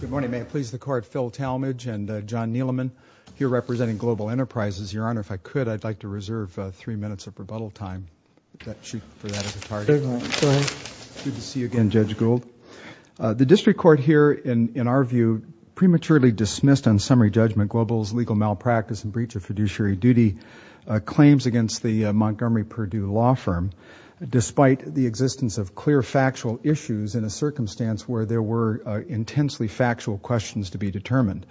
Good morning. May it please the Court, Phil Talmadge and John Neeleman here representing Global Enterprises. Your Honor, if I could, I'd like to reserve three minutes of rebuttal time for that as a target. Good to see you again, Judge Gould. The district court here, in our view, prematurely dismissed on summary judgment Global's legal malpractice and breach of fiduciary duty claims against the Montgomery Purdue law firm despite the existence of clear factual issues in a circumstance where there were intensely factual questions to be determined.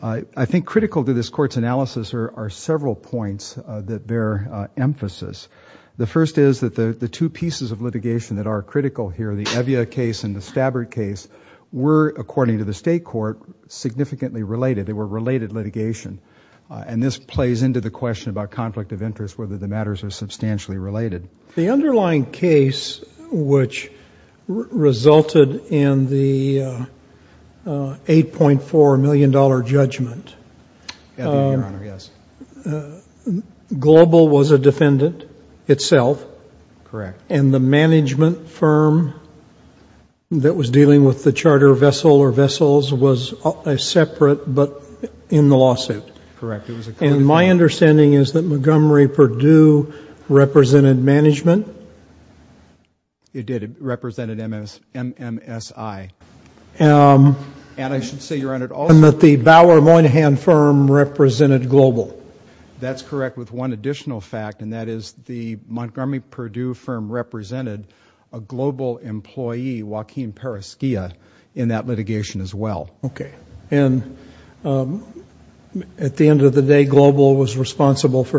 I think critical to this Court's analysis are several points that bear emphasis. The first is that the two pieces of litigation that are critical here, the Evia case and the Stabbert case, were, according to the state court, significantly related. They were related litigation. And this plays into the question about conflict of interest, whether the matters are substantially related. The underlying case which resulted in the $8.4 million judgment, Global was a defendant itself and the management firm that was dealing with the charter vessel or vessels was separate but in the lawsuit. And my understanding is that Montgomery Purdue represented management? It did. It represented MMSI. And that the Bower Moynihan firm represented Global? That's correct, with one additional fact, and that is the Montgomery Purdue firm represented a Global employee, Joaquin Paraschia, in that for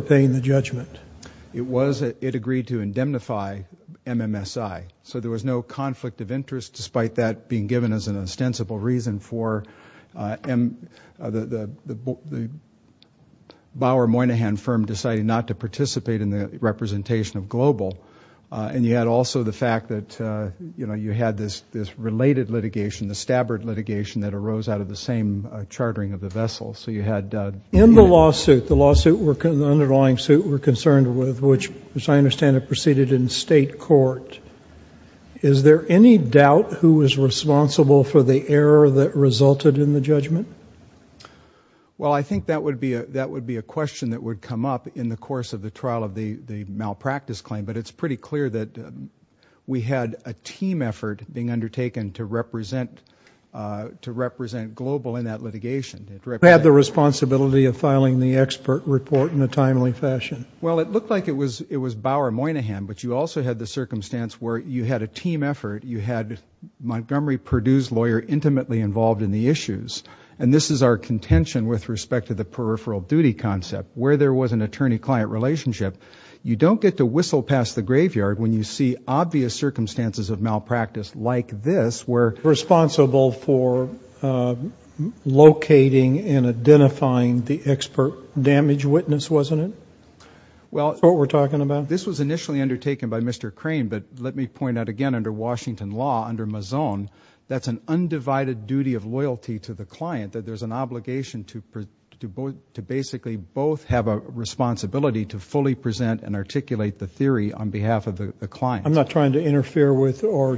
paying the judgment. It agreed to indemnify MMSI. So there was no conflict of interest despite that being given as an ostensible reason for the Bower Moynihan firm deciding not to participate in the representation of Global. And you had also the fact that you had this related litigation, the Stabbert litigation that arose out of the same chartering of the vessel. In the lawsuit, the underlying suit we're concerned with, which as I understand it proceeded in state court, is there any doubt who was responsible for the error that resulted in the judgment? Well, I think that would be a question that would come up in the course of the trial of the malpractice claim. But it's pretty clear that we had a responsibility of filing the expert report in a timely fashion. Well, it looked like it was Bower Moynihan, but you also had the circumstance where you had a team effort, you had Montgomery Purdue's lawyer intimately involved in the issues. And this is our contention with respect to the peripheral duty concept, where there was an attorney-client relationship. You don't get to whistle past the graveyard when you see obvious circumstances of malpractice like this, where... Responsible for locating and identifying the expert damage witness, wasn't it? That's what we're talking about? Well, this was initially undertaken by Mr. Crane, but let me point out again, under Washington law, under Mazone, that's an undivided duty of loyalty to the client, that there's an obligation to basically both have a responsibility to fully present and articulate the theory on behalf of the client. I'm not trying to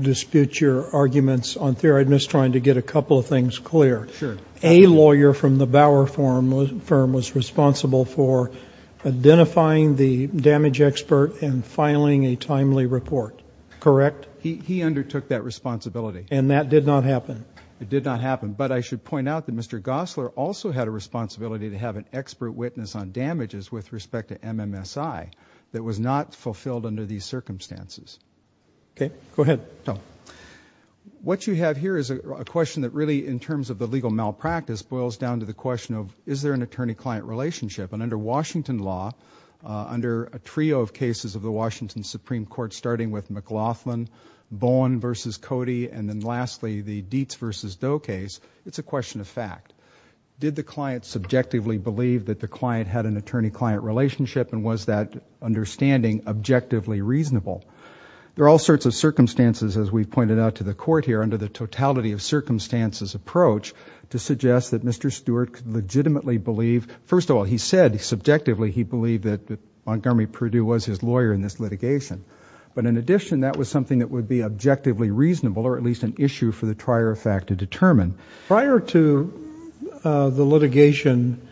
dispute your arguments on theory. I'm just trying to get a couple of things clear. Sure. A lawyer from the Bower firm was responsible for identifying the damage expert and filing a timely report, correct? He undertook that responsibility. And that did not happen? It did not happen. But I should point out that Mr. Gosler also had a responsibility to have an expert witness on damages with respect to MMSI that was not fulfilled under these terms. Correcto. What you have here is a question that really, in terms of the legal malpractice, boils down to the question of, is there an attorney-client relationship? And under Washington law, under a trio of cases of the Washington Supreme Court, starting with McLaughlin, Bowen versus Cody, and then lastly, the Dietz versus Doe case, it's a question of fact. Did the client subjectively believe that the client had an attorney-client relationship and was that understanding objectively reasonable? There are all sorts of circumstances as we've pointed out to the court here, under the totality of circumstances approach, to suggest that Mr. Stewart could legitimately believe, first of all, he said subjectively he believed that Montgomery Purdue was his lawyer in this litigation. But in addition, that was something that would be objectively reasonable, or at least an issue for the trier of fact to determine. Prior to the litigation,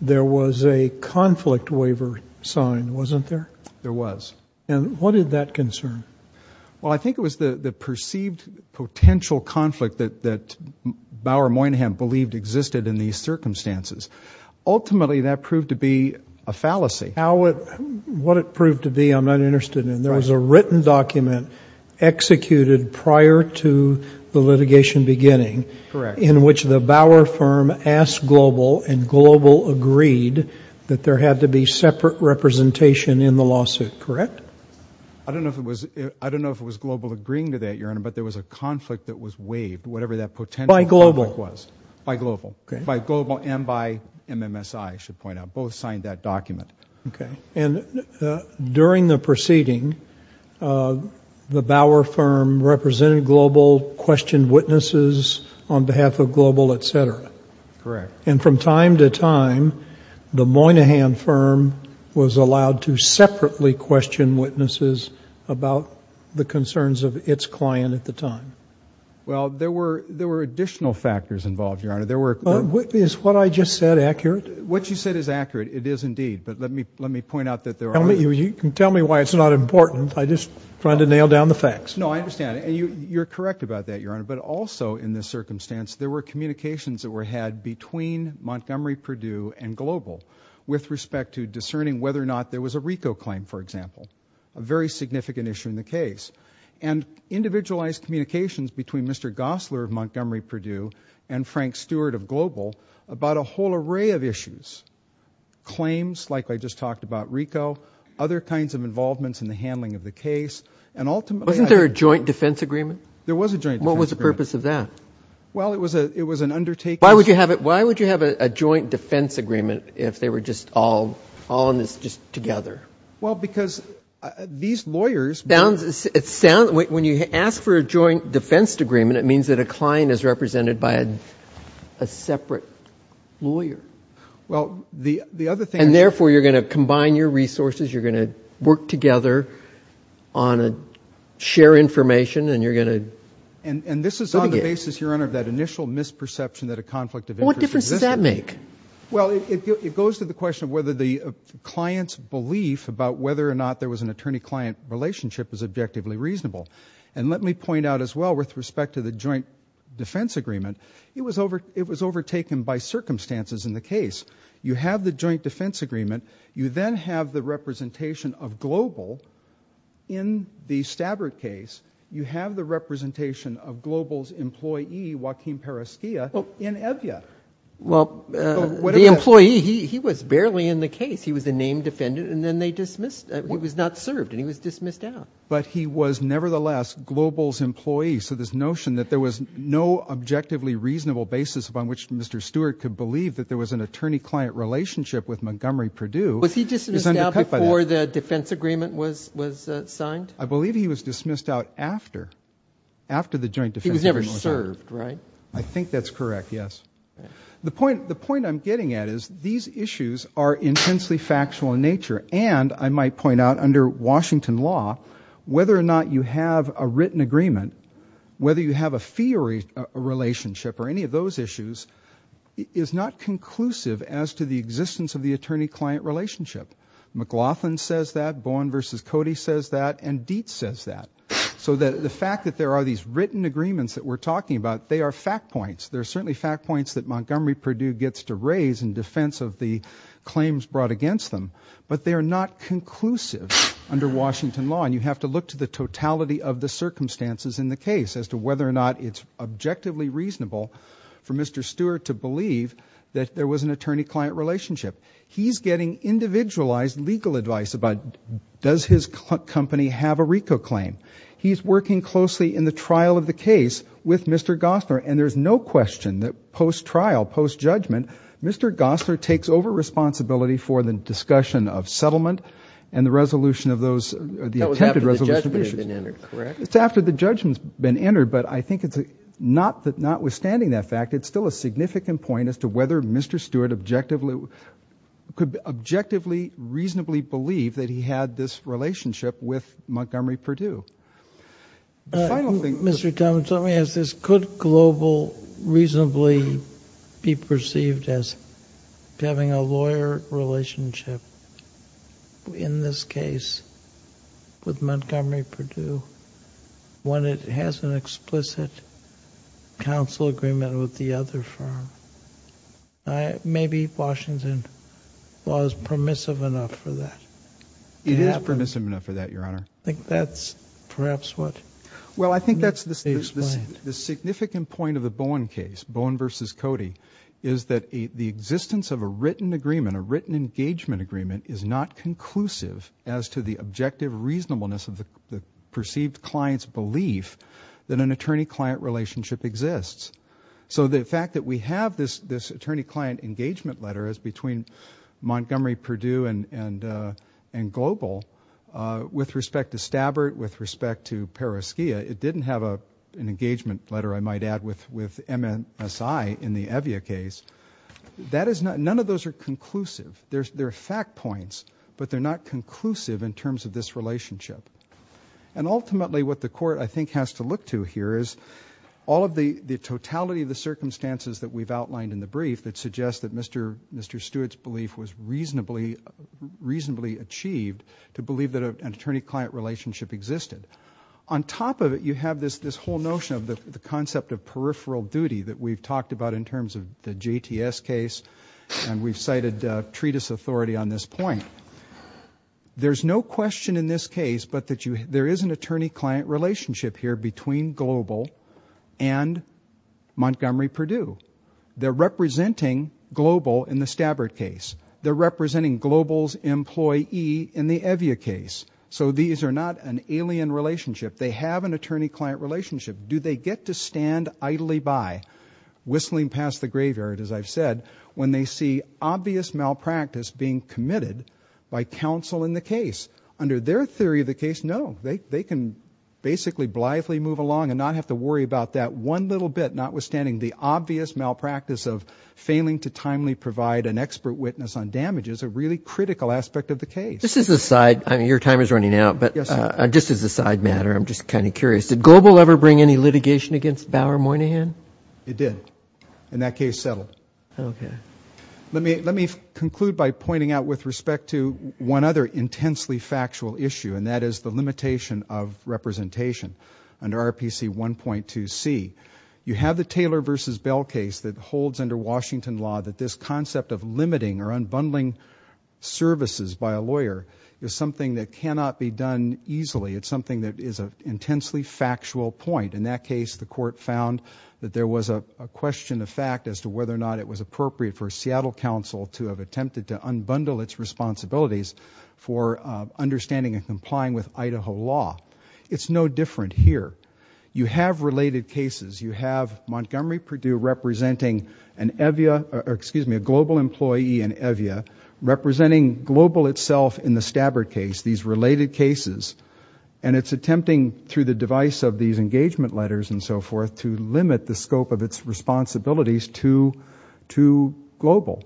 there was a conflict waiver sign, wasn't there? There was. And what did that concern? Well, I think it was the perceived potential conflict that Bower Moynihan believed existed in these circumstances. Ultimately, that proved to be a fallacy. How it, what it proved to be, I'm not interested in. There was a written document executed prior to the litigation beginning in which the Bower firm asked Global and Global agreed that there had to be separate representation in the lawsuit, correct? I don't know if it was, I don't know if it was Global agreeing to that, Your Honor, but there was a conflict that was waived, whatever that potential conflict was. By Global. By Global. By Global and by MMSI, I should point out. Both signed that document. Okay. And during the proceeding, the Bower firm represented Global, questioned witnesses on behalf of MMSI, and from time to time, the Moynihan firm was allowed to separately question witnesses about the concerns of its client at the time. Well, there were, there were additional factors involved, Your Honor. There were... Is what I just said accurate? What you said is accurate. It is indeed. But let me, let me point out that there are... Tell me, you can tell me why it's not important. I just trying to nail down the facts. No, I understand. And you, you're correct about that, Your Honor. But also in this circumstance, there were communications that were had between Montgomery Purdue and Global with respect to discerning whether or not there was a RICO claim, for example. A very significant issue in the case. And individualized communications between Mr. Gosler of Montgomery Purdue and Frank Stewart of Global about a whole array of issues. Claims, like I just talked about RICO, other kinds of involvements in the handling of the case, and ultimately... Wasn't there a joint defense agreement? There was a joint defense agreement. What was the purpose of that? Well, it was an undertaking... Why would you have it, why would you have a joint defense agreement if they were just all, all in this just together? Well, because these lawyers... It sounds, when you ask for a joint defense agreement, it means that a client is represented by a separate lawyer. Well, the, the other thing... And therefore, you're going to combine your resources, you're going to work together on a share information, and you're going to... And, and this is on the basis, Your Honor, of that initial misperception that a conflict of interest existed. Well, what difference does that make? Well, it, it goes to the question of whether the client's belief about whether or not there was an attorney-client relationship is objectively reasonable. And let me point out as well, with respect to the joint defense agreement, it was overtaken by circumstances in the case. You have the joint defense agreement, you then have the representation of Global in the Stabbert case, you have the representation of Global's employee, Joaquin Paraschia, in Evia. Well, the employee, he, he was barely in the case. He was a named defendant, and then they dismissed, he was not served, and he was dismissed out. But he was nevertheless Global's employee, so this notion that there was no objectively reasonable basis upon which Mr. Stewart could believe that there was an attorney-client relationship is undercut by that. Was he dismissed out before the defense agreement was, was signed? I believe he was dismissed out after, after the joint defense agreement was signed. He was never served, right? I think that's correct, yes. The point, the point I'm getting at is these issues are intensely factual in nature, and, I might point out, under Washington law, whether or not you have a written agreement, whether you have a theory, a relationship, or any of those issues, is not conclusive as to the relationship. McLaughlin says that, Bowen v. Cody says that, and Dietz says that. So the fact that there are these written agreements that we're talking about, they are fact points. They're certainly fact points that Montgomery Purdue gets to raise in defense of the claims brought against them, but they are not conclusive under Washington law, and you have to look to the totality of the circumstances in the case as to whether or not it's objectively reasonable for Mr. Stewart to believe that there was an attorney-client relationship. He's getting individualized legal advice about, does his company have a RICO claim? He's working closely in the trial of the case with Mr. Gossner, and there's no question that post-trial, post-judgment, Mr. Gossner takes over responsibility for the discussion of settlement and the resolution of those, the attempted resolution of issues. That was after the judgment had been entered, correct? It's after the judgment's been entered, but I think it's, notwithstanding that fact, it's still a significant point as to whether Mr. Stewart objectively, could objectively reasonably believe that he had this relationship with Montgomery Purdue. The final thing... Mr. Thomas, let me ask this. Could global reasonably be perceived as having a lawyer relationship in this case with Montgomery Purdue when it has an explicit counsel agreement with the other firm? Maybe Washington law is permissive enough for that. It is permissive enough for that, Your Honor. I think that's perhaps what... Well, I think that's the significant point of the Bowen case, Bowen v. Cody, is that the existence of a written agreement, a written engagement agreement, is not conclusive as to the objective reasonableness of the perceived client's belief that an attorney-client relationship exists. So the fact that we have this attorney-client engagement letter is between Montgomery Purdue and Global with respect to Stabbert, with respect to Pereskia. It didn't have an engagement letter, I might add, with MSI in the Evia case. That is not... None of those are conclusive. There are fact points, but they're not conclusive in terms of this relationship. And ultimately, what the Court, I think, has to look to here is all of the totality of the circumstances that we've outlined in the brief that suggest that Mr. Stewart's belief was reasonably achieved to believe that an attorney-client relationship existed. On top of it, you have this whole notion of the concept of peripheral duty that we've talked about in terms of the JTS case, and we've cited treatise authority on this point. There's no question in this case but that there is an attorney-client relationship here between Global and Montgomery Purdue. They're representing Global in the Stabbert case. They're representing Global's employee in the Evia case. So these are not an alien relationship. They have an attorney-client relationship. Do they get to stand idly by, whistling past the graveyard as I've said, when they see obvious malpractice being committed by counsel in the case? Under their theory of the case, no. They can basically blithely move along and not have to worry about that one little bit, notwithstanding the obvious malpractice of failing to timely provide an expert witness on damages, a really critical aspect of the case. This is a side... I mean, your time is running out, but just as a side matter, I'm just kind of curious. Did Global ever bring any litigation against Bauer Moynihan? It did. And that case settled. Okay. Let me conclude by pointing out with respect to one other intensely factual issue, and that is the limitation of representation under RPC 1.2c. You have the Taylor v. Bell case that holds under Washington law that this concept of limiting or unbundling services by a lawyer is something that cannot be done easily. It's something that is an intensely factual point. In that case, the court found that there was a question of fact as to whether or not it was appropriate for a Seattle counsel to have attempted to unbundle its responsibilities for understanding and complying with Idaho law. It's no different here. You have related cases. You have Montgomery Purdue representing an EVIA... excuse me, a Global employee in EVIA, representing Global itself in the Stabbard case, these related cases, and it's attempting through the device of these engagement letters and so forth to limit the scope of its responsibilities to Global.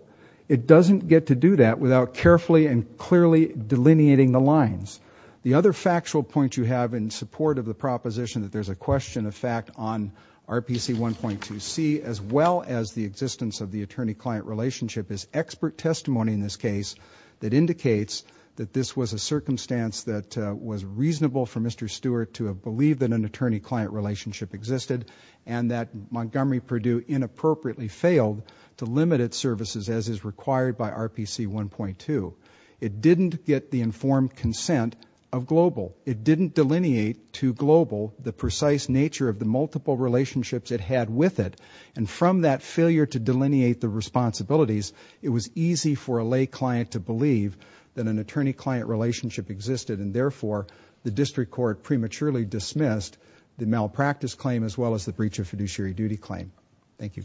It doesn't get to do that without carefully and clearly delineating the lines. The other factual point you have in support of the proposition that there's a question of fact on RPC 1.2c, as well as the existence of the attorney-client relationship, is expert testimony in this case that indicates that this was a circumstance that was reasonable for Mr. Stewart to have believed that an attorney-client relationship existed and that Montgomery Purdue inappropriately failed to limit its services as is required by RPC 1.2. It didn't get the informed consent of Global. It didn't delineate to Global the precise nature of the multiple relationships it had with it, and from that failure to delineate the responsibilities, it was easy for a lay client to believe that an attorney-client relationship existed and therefore the district court prematurely dismissed the malpractice claim as well as the breach of fiduciary duty claim. Thank you.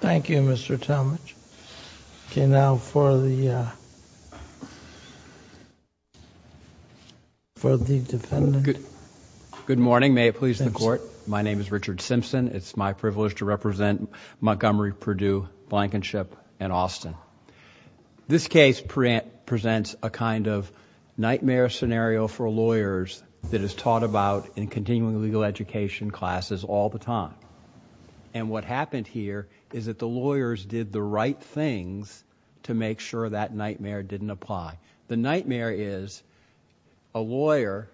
Thank you, Mr. Talmadge. Okay, now for the defendant. Good morning. May it please the Court. My name is Richard Simpson. It's my privilege to represent Montgomery Purdue, Blankenship and Austin. This case presents a kind of nightmare scenario for lawyers that is taught about in continuing legal education classes all the time. What happened here is that the lawyers did the right things to make sure that nightmare didn't apply. The nightmare is a lawyer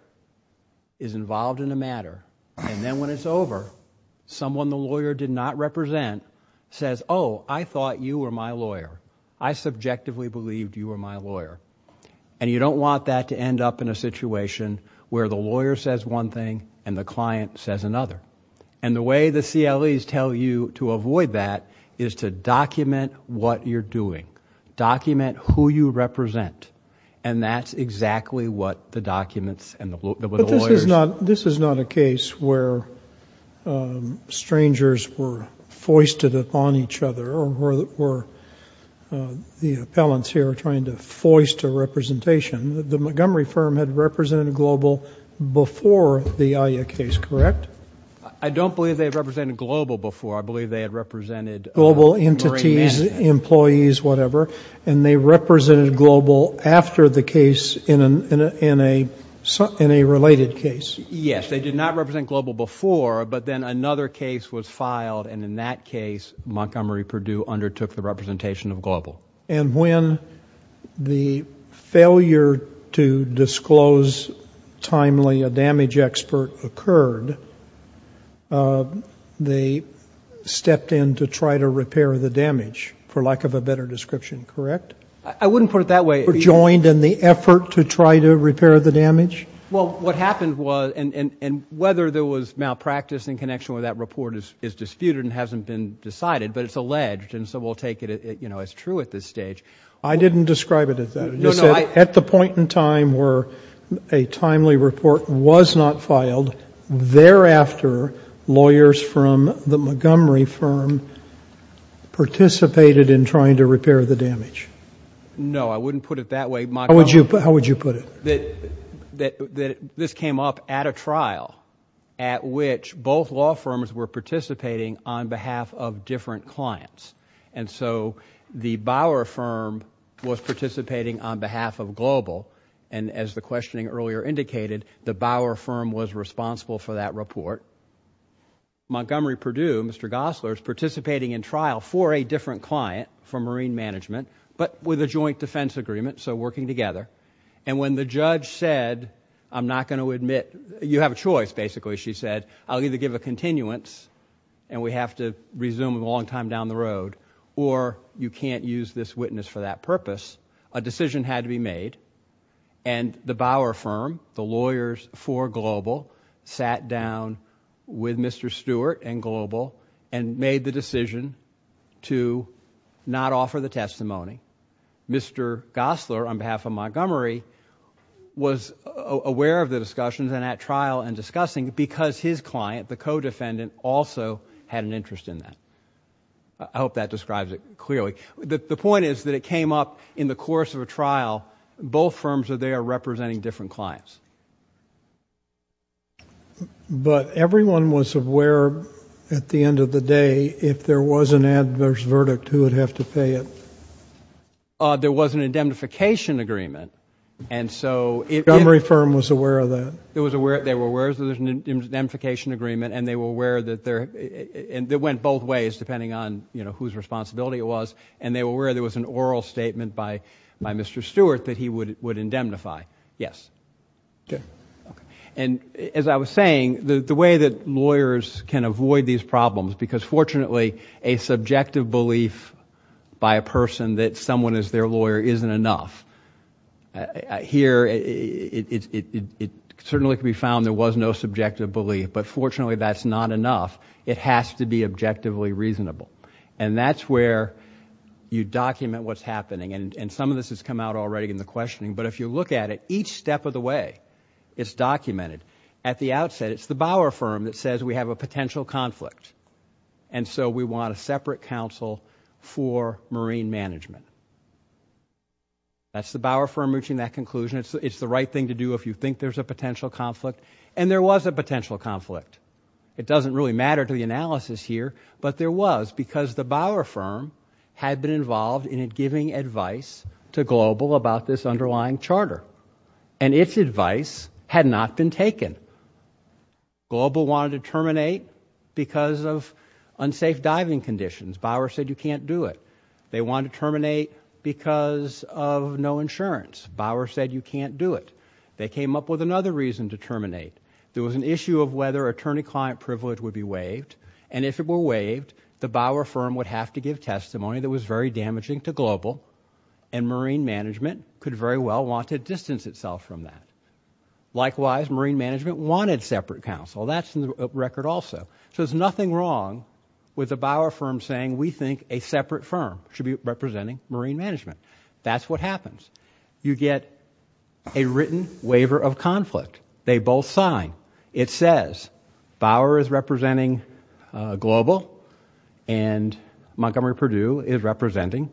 is involved in a matter and then when it's over, someone the lawyer did not represent says, oh, I thought you were my lawyer. I subjectively believed you were my lawyer. You don't want that to end up in a situation where the lawyer says one thing and the client says another. The way the CLEs tell you to avoid that is to document what you're doing. Document who you represent. That's exactly what the documents and the lawyers. This is not a case where strangers were foisted upon each other or where the appellants here are trying to foist a representation. The Montgomery firm had represented Global before the AYA case, correct? I don't believe they had represented Global before. I believe they had represented Marine Management. Global entities, employees, whatever, and they represented Global after the case in a related case. Yes, they did not represent Global before, but then another case was filed and in that case Montgomery Purdue undertook the representation of Global. And when the failure to disclose timely a damage expert occurred, they stepped in to try to repair the damage for lack of a better description, correct? I wouldn't put it that way. They were joined in the effort to try to repair the damage? Well, what happened was, and whether there was malpractice in connection with that report is disputed and hasn't been decided, but it's alleged and so we'll take it as true at this stage. I didn't describe it as that. I just said at the point in time where a timely report was not filed, thereafter lawyers from the Montgomery firm participated in trying to repair the damage. No, I wouldn't put it that way. How would you put it? This came up at a trial at which both law firms were participating on behalf of different clients and so the Bauer firm was participating on behalf of Global and as the questioning earlier indicated, the Bauer firm was responsible for that report. Montgomery Purdue, Mr. Gosler, is participating in trial for a different client from Marine Management, but with a joint defense agreement, so working together. When the judge said, I'm not going to admit, you have a choice basically, she said, I'll either give a continuance and we have to resume a long time down the road or you can't use this witness for that purpose, a decision had to be made and the Bauer firm, the lawyers for Global, sat down with Mr. Stewart and Global and made the decision to not offer the testimony. Mr. Gosler, on behalf of Montgomery, was aware of the discussions and at trial and discussing because his client, the co-defendant, also had an interest in that. I hope that describes it clearly. The point is that it came up in the course of a trial, both firms are there representing different clients. But everyone was aware at the end of the day, if there was an adverse verdict, who would have to pay it? There was an indemnification agreement and so... Montgomery firm was aware of that? They were aware of the indemnification agreement and they were aware that there... it went both ways depending on whose responsibility it was and they were aware there was an oral statement by Mr. Stewart that he would indemnify, yes. As I was saying, the way that lawyers can avoid these problems, because fortunately a subjective belief by a person that someone is their lawyer isn't enough. Here it certainly can be found there was no subjective belief, but fortunately that's not enough. It has to be objectively reasonable. That's where you document what's happening. Some of this has come out already in the questioning, but if you look at it, each step of the way is documented. At the outset, it's the Bauer firm that says we have a potential conflict. And so we want a separate counsel for marine management. That's the Bauer firm reaching that conclusion. It's the right thing to do if you think there's a potential conflict. And there was a potential conflict. It doesn't really matter to the analysis here, but there was because the Bauer firm had been involved in giving advice to Global about this underlying charter. And its advice had not been taken. And Global wanted to terminate because of unsafe diving conditions. Bauer said you can't do it. They wanted to terminate because of no insurance. Bauer said you can't do it. They came up with another reason to terminate. There was an issue of whether attorney-client privilege would be waived. And if it were waived, the Bauer firm would have to give testimony that was very damaging to Global, and marine management could very well want to distance itself from that. Likewise, marine management wanted separate counsel. That's in the record also. So there's nothing wrong with the Bauer firm saying we think a separate firm should be representing marine management. That's what happens. You get a written waiver of conflict. They both sign. It says Bauer is representing Global and Montgomery-Purdue is representing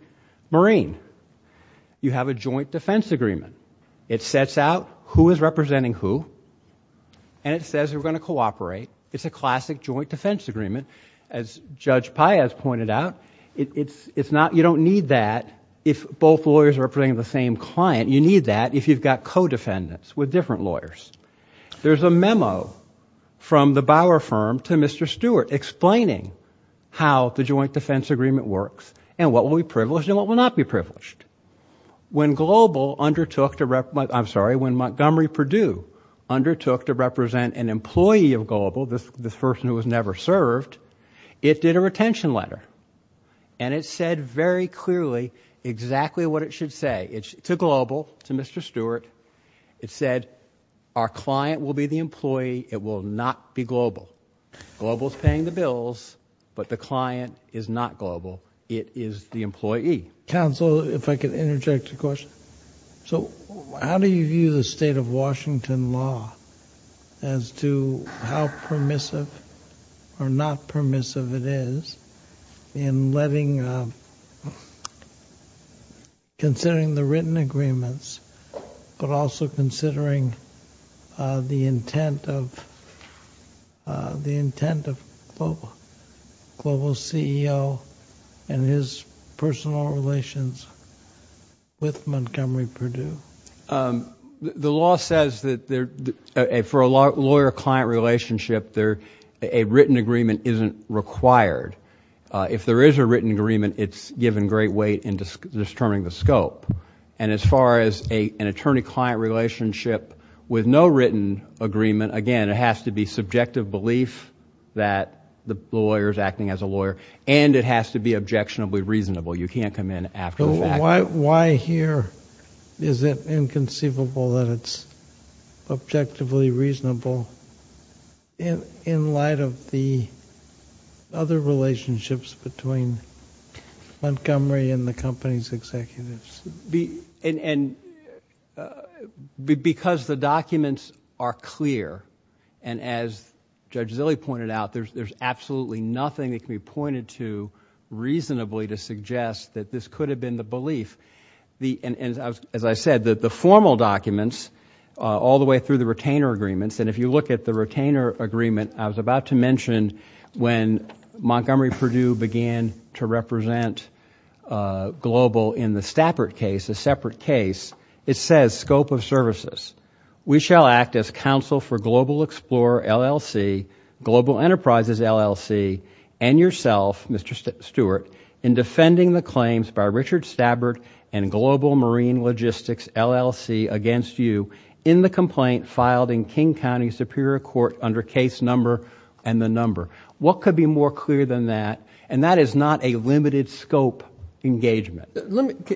marine. You have a joint defense agreement. It sets out who is representing who, and it says we're going to cooperate. It's a classic joint defense agreement. As Judge Paez pointed out, you don't need that if both lawyers are representing the same client. You need that if you've got co-defendants with different lawyers. There's a memo from the Bauer firm to Mr. Stewart explaining how the joint defense agreement works and what will be privileged and what will not be privileged. When Montgomery-Purdue undertook to represent an employee of Global, this person who was never served, it did a retention letter, and it said very clearly exactly what it should say to Global, to Mr. Stewart. It said our client will be the employee. It will not be Global. Global is paying the bills, but the client is not Global. It is the employee. Counsel, if I could interject a question. So how do you view the state of Washington law as to how permissive or not permissive it is in letting, considering the written agreements, but also considering the intent of Global's CEO and his personal relations with Montgomery-Purdue? The law says that for a lawyer-client relationship, a written agreement isn't required. If there is a written agreement, it's given great weight in determining the scope. As far as an attorney-client relationship with no written agreement, again, it has to be subjective belief that the lawyer is acting as a lawyer, and it has to be objectionably reasonable. You can't come in after the fact. Why here is it inconceivable that it's objectively reasonable in light of the other relationships between Montgomery and the company's executives? Because the documents are clear, and as Judge Zille pointed out, there's absolutely nothing that can be pointed to reasonably to suggest that this could have been the belief. As I said, the formal documents, all the way through the retainer agreements, and if you look at the retainer agreement, I was about to mention when Montgomery-Purdue began to represent Global in the Stappert case, a separate case, it says, scope of services, we shall act as counsel for Global Explorer, LLC, Global Enterprises, LLC, and yourself, Mr. Stewart, in defending the claims by Richard Stappert and Global Marine Logistics, LLC, against you in the complaint filed in King County Superior Court under case number and the number. What could be more clear than that? And that is not a limited scope engagement.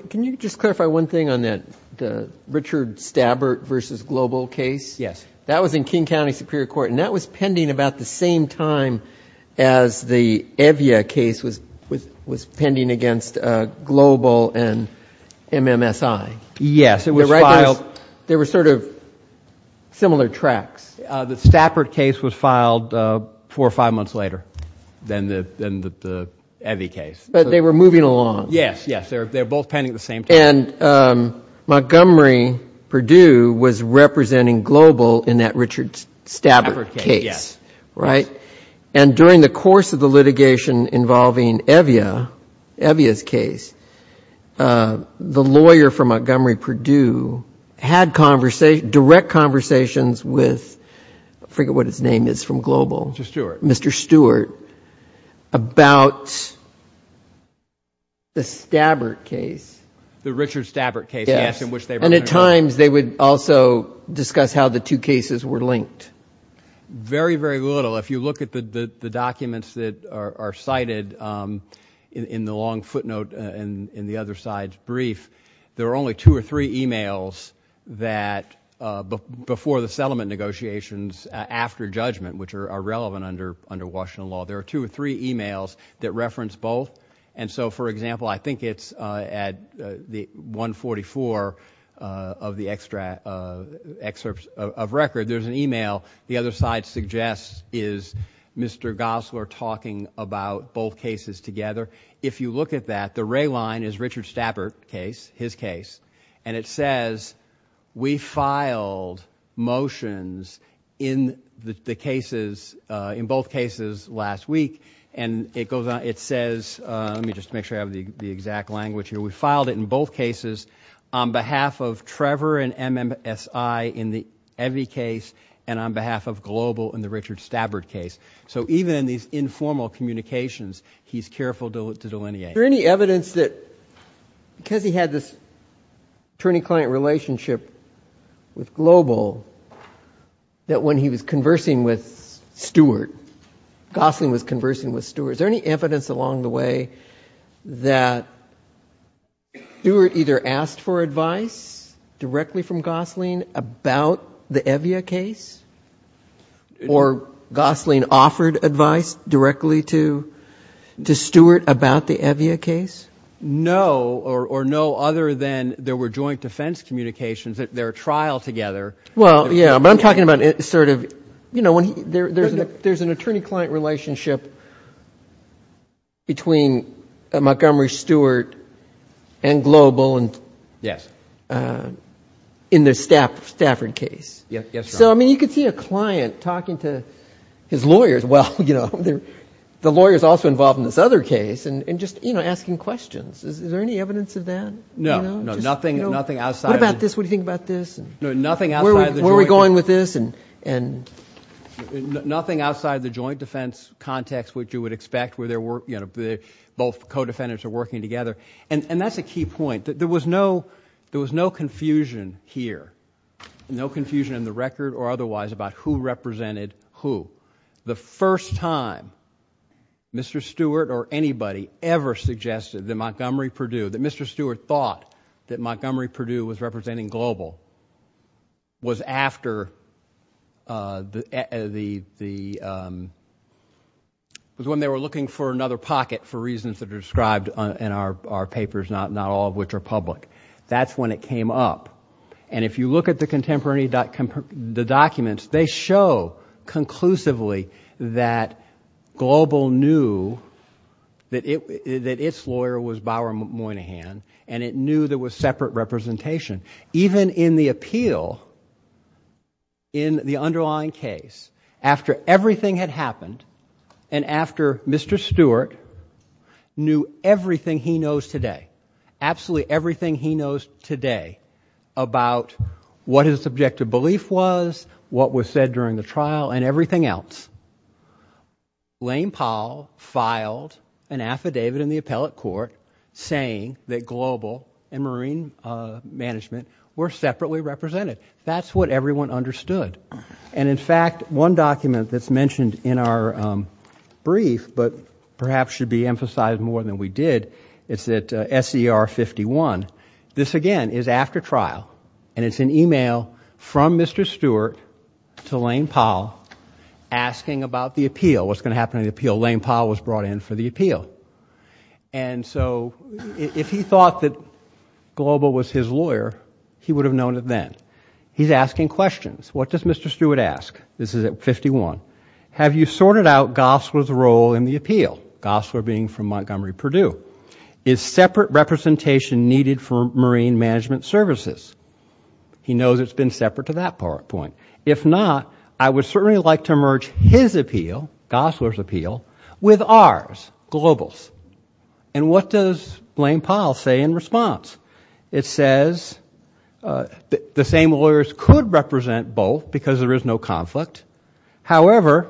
Can you just clarify one thing on that Richard Stappert versus Global case? Yes. That was in King County Superior Court, and that was pending about the same time as the Evia case was pending against Global and MMSI. Yes. They were sort of similar tracks. The Stappert case was filed four or five months later than the Evia case. But they were moving along. Yes. Yes. They were both pending at the same time. And Montgomery-Purdue was representing Global in that Richard Stappert case, right? Yes. Yes. And during the course of the litigation involving Evia, Evia's case, the lawyer for Montgomery-Purdue had direct conversations with, I forget what his name is from Global. Mr. Stewart. Mr. Stewart, about the Stappert case. The Richard Stappert case. Yes. Yes. And at times they would also discuss how the two cases were linked. Very very little. Well, if you look at the documents that are cited in the long footnote in the other side's brief, there are only two or three emails that, before the settlement negotiations, after judgment, which are relevant under Washington law, there are two or three emails that reference both. And so, for example, I think it's at 144 of the excerpts of record, there's an email the is Mr. Gosler talking about both cases together. If you look at that, the red line is Richard Stappert case, his case. And it says, we filed motions in the cases, in both cases last week. And it goes on, it says, let me just make sure I have the exact language here, we filed it in both cases on behalf of Trevor and MMSI in the Evia case and on behalf of Global in the Richard Stappert case. So even in these informal communications, he's careful to delineate. Is there any evidence that, because he had this attorney-client relationship with Global, that when he was conversing with Stewart, Gosling was conversing with Stewart, is there any evidence along the way that Stewart either asked for advice directly from Gosling about the Evia case or Gosling offered advice directly to Stewart about the Evia case? No, or no other than there were joint defense communications at their trial together. Well, yeah, but I'm talking about sort of, you know, there's an attorney-client relationship between Montgomery Stewart and Global in the Stafford case. So I mean, you could see a client talking to his lawyers, well, you know, the lawyers also involved in this other case, and just, you know, asking questions, is there any evidence of that? No. No, nothing outside. What about this? What do you think about this? No, nothing outside the joint defense. Where are we going with this? And nothing outside the joint defense context which you would expect where both co-defendants are working together, and that's a key point, that there was no confusion here, no confusion in the record or otherwise about who represented who. The first time Mr. Stewart or anybody ever suggested that Montgomery Purdue, that Mr. was when they were looking for another pocket for reasons that are described in our papers, not all of which are public. That's when it came up, and if you look at the contemporary documents, they show conclusively that Global knew that its lawyer was Bower Moynihan, and it knew there was separate representation. Even in the appeal, in the underlying case, after everything had happened, and after Mr. Stewart knew everything he knows today, absolutely everything he knows today about what his objective belief was, what was said during the trial, and everything else, Lane Powell filed an represented. That's what everyone understood, and in fact, one document that's mentioned in our brief, but perhaps should be emphasized more than we did, it's at SCR 51. This again is after trial, and it's an email from Mr. Stewart to Lane Powell asking about the appeal, what's going to happen in the appeal. Lane Powell was brought in for the appeal. And so if he thought that Global was his lawyer, he would have known it then. He's asking questions. What does Mr. Stewart ask? This is at 51. Have you sorted out Gosler's role in the appeal, Gosler being from Montgomery, Purdue? Is separate representation needed for marine management services? He knows it's been separate to that point. If not, I would certainly like to merge his appeal, Gosler's appeal, with ours, Global's. And what does Lane Powell say in response? It says the same lawyers could represent both because there is no conflict. However,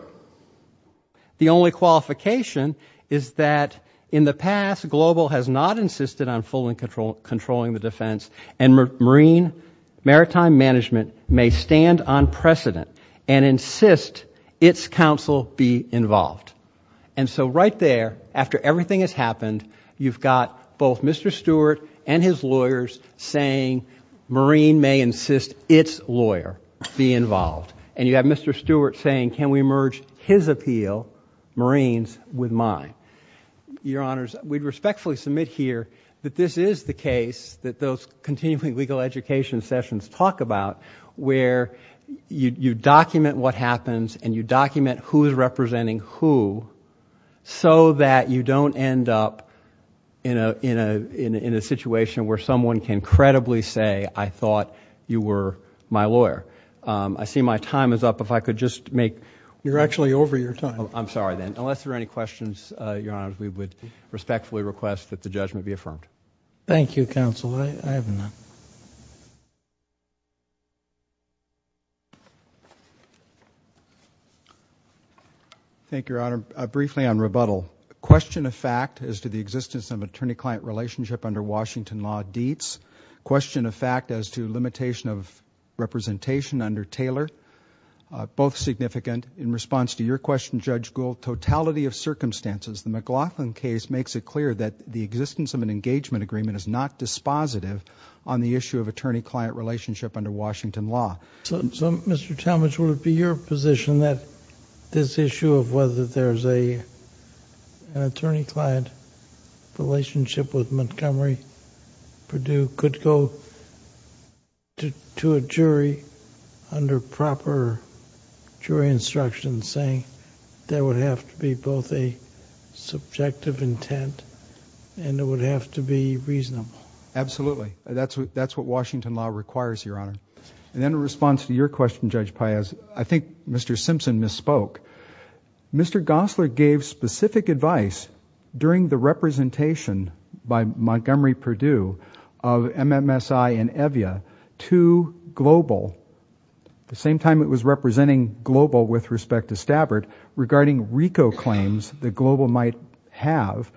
the only qualification is that in the past, Global has not insisted on fully controlling the defense, and marine maritime management may stand on precedent and insist its counsel be involved. And so right there, after everything has happened, you've got both Mr. Stewart and his lawyers saying marine may insist its lawyer be involved. And you have Mr. Stewart saying, can we merge his appeal, marine's, with mine? Your honors, we respectfully submit here that this is the case that those continuing legal education sessions talk about, where you document what happens, and you document who's representing who, so that you don't end up in a situation where someone can credibly say, I thought you were my lawyer. I see my time is up. If I could just make- You're actually over your time. I'm sorry then. Unless there are any questions, your honors, we would respectfully request that the judgment be affirmed. Thank you, counsel. I have none. Thank you, your honor. Briefly on rebuttal. Question of fact as to the existence of attorney-client relationship under Washington law deets. Question of fact as to limitation of representation under Taylor. Both significant. In response to your question, Judge Gould, totality of circumstances, the McLaughlin case makes it clear that the existence of an engagement agreement is not dispositive on the issue of attorney-client relationship under Washington law. So Mr. Talmadge, would it be your position that this issue of whether there's an attorney-client relationship with Montgomery Purdue could go to a jury under proper jury instructions saying there would have to be both a subjective intent and it would have to be reasonable? Absolutely. That's what Washington law requires, your honor. And then in response to your question, Judge Paez, I think Mr. Simpson misspoke. Mr. Gosler gave specific advice during the representation by Montgomery Purdue of MMSI and EVIA to Global, the same time it was representing Global with respect to Stabbert, regarding RICO claims that Global might have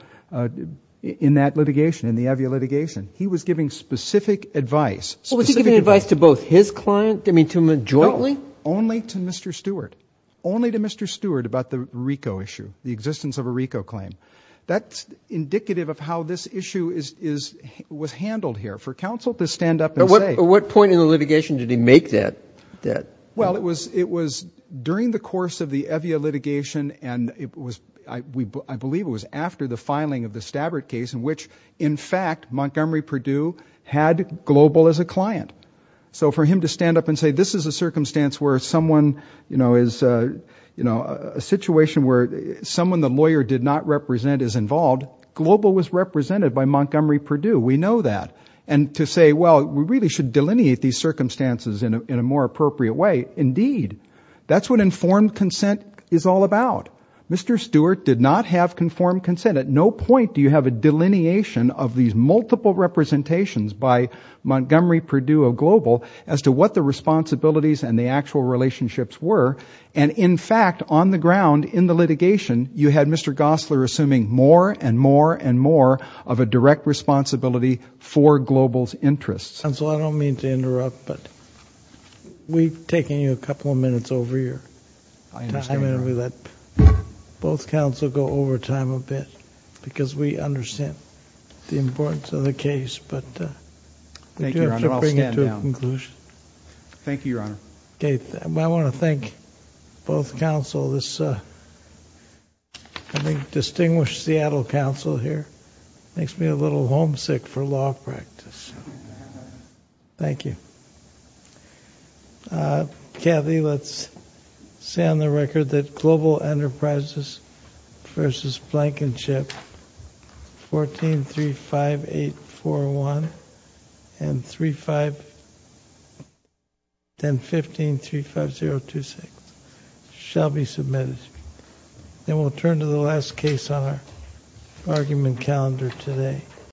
in that litigation, in the EVIA litigation. He was giving specific advice. Was he giving advice to both his client, I mean to jointly? Only to Mr. Stewart. Only to Mr. Stewart about the RICO issue, the existence of a RICO claim. That's indicative of how this issue was handled here. For counsel to stand up and say... What point in the litigation did he make that? Well, it was during the course of the EVIA litigation and I believe it was after the filing of the Stabbert case in which, in fact, Montgomery Purdue had Global as a client. So for him to stand up and say, this is a circumstance where someone, you know, a situation where someone the lawyer did not represent is involved, Global was represented by Montgomery Purdue. We know that. And to say, well, we really should delineate these circumstances in a more appropriate way. Indeed. That's what informed consent is all about. Mr. Stewart did not have conformed consent. At no point do you have a delineation of these multiple representations by Montgomery Purdue of Global as to what the responsibilities and the actual relationships were. And in fact, on the ground, in the litigation, you had Mr. Gosler assuming more and more and more of a direct responsibility for Global's interests. Counsel, I don't mean to interrupt, but we've taken you a couple of minutes over your time and we let both counsel go over time a bit because we understand the importance of the case. But I'll bring it to a conclusion. Thank you, Your Honor. I want to thank both counsel, this distinguished Seattle counsel here makes me a little homesick for law practice. Thank you. Kathy, let's say on the record that Global Enterprises v. Blankenship, 1435841 and 3-5-10-15-35026 shall be submitted. Then we'll turn to the last case on our argument calendar today.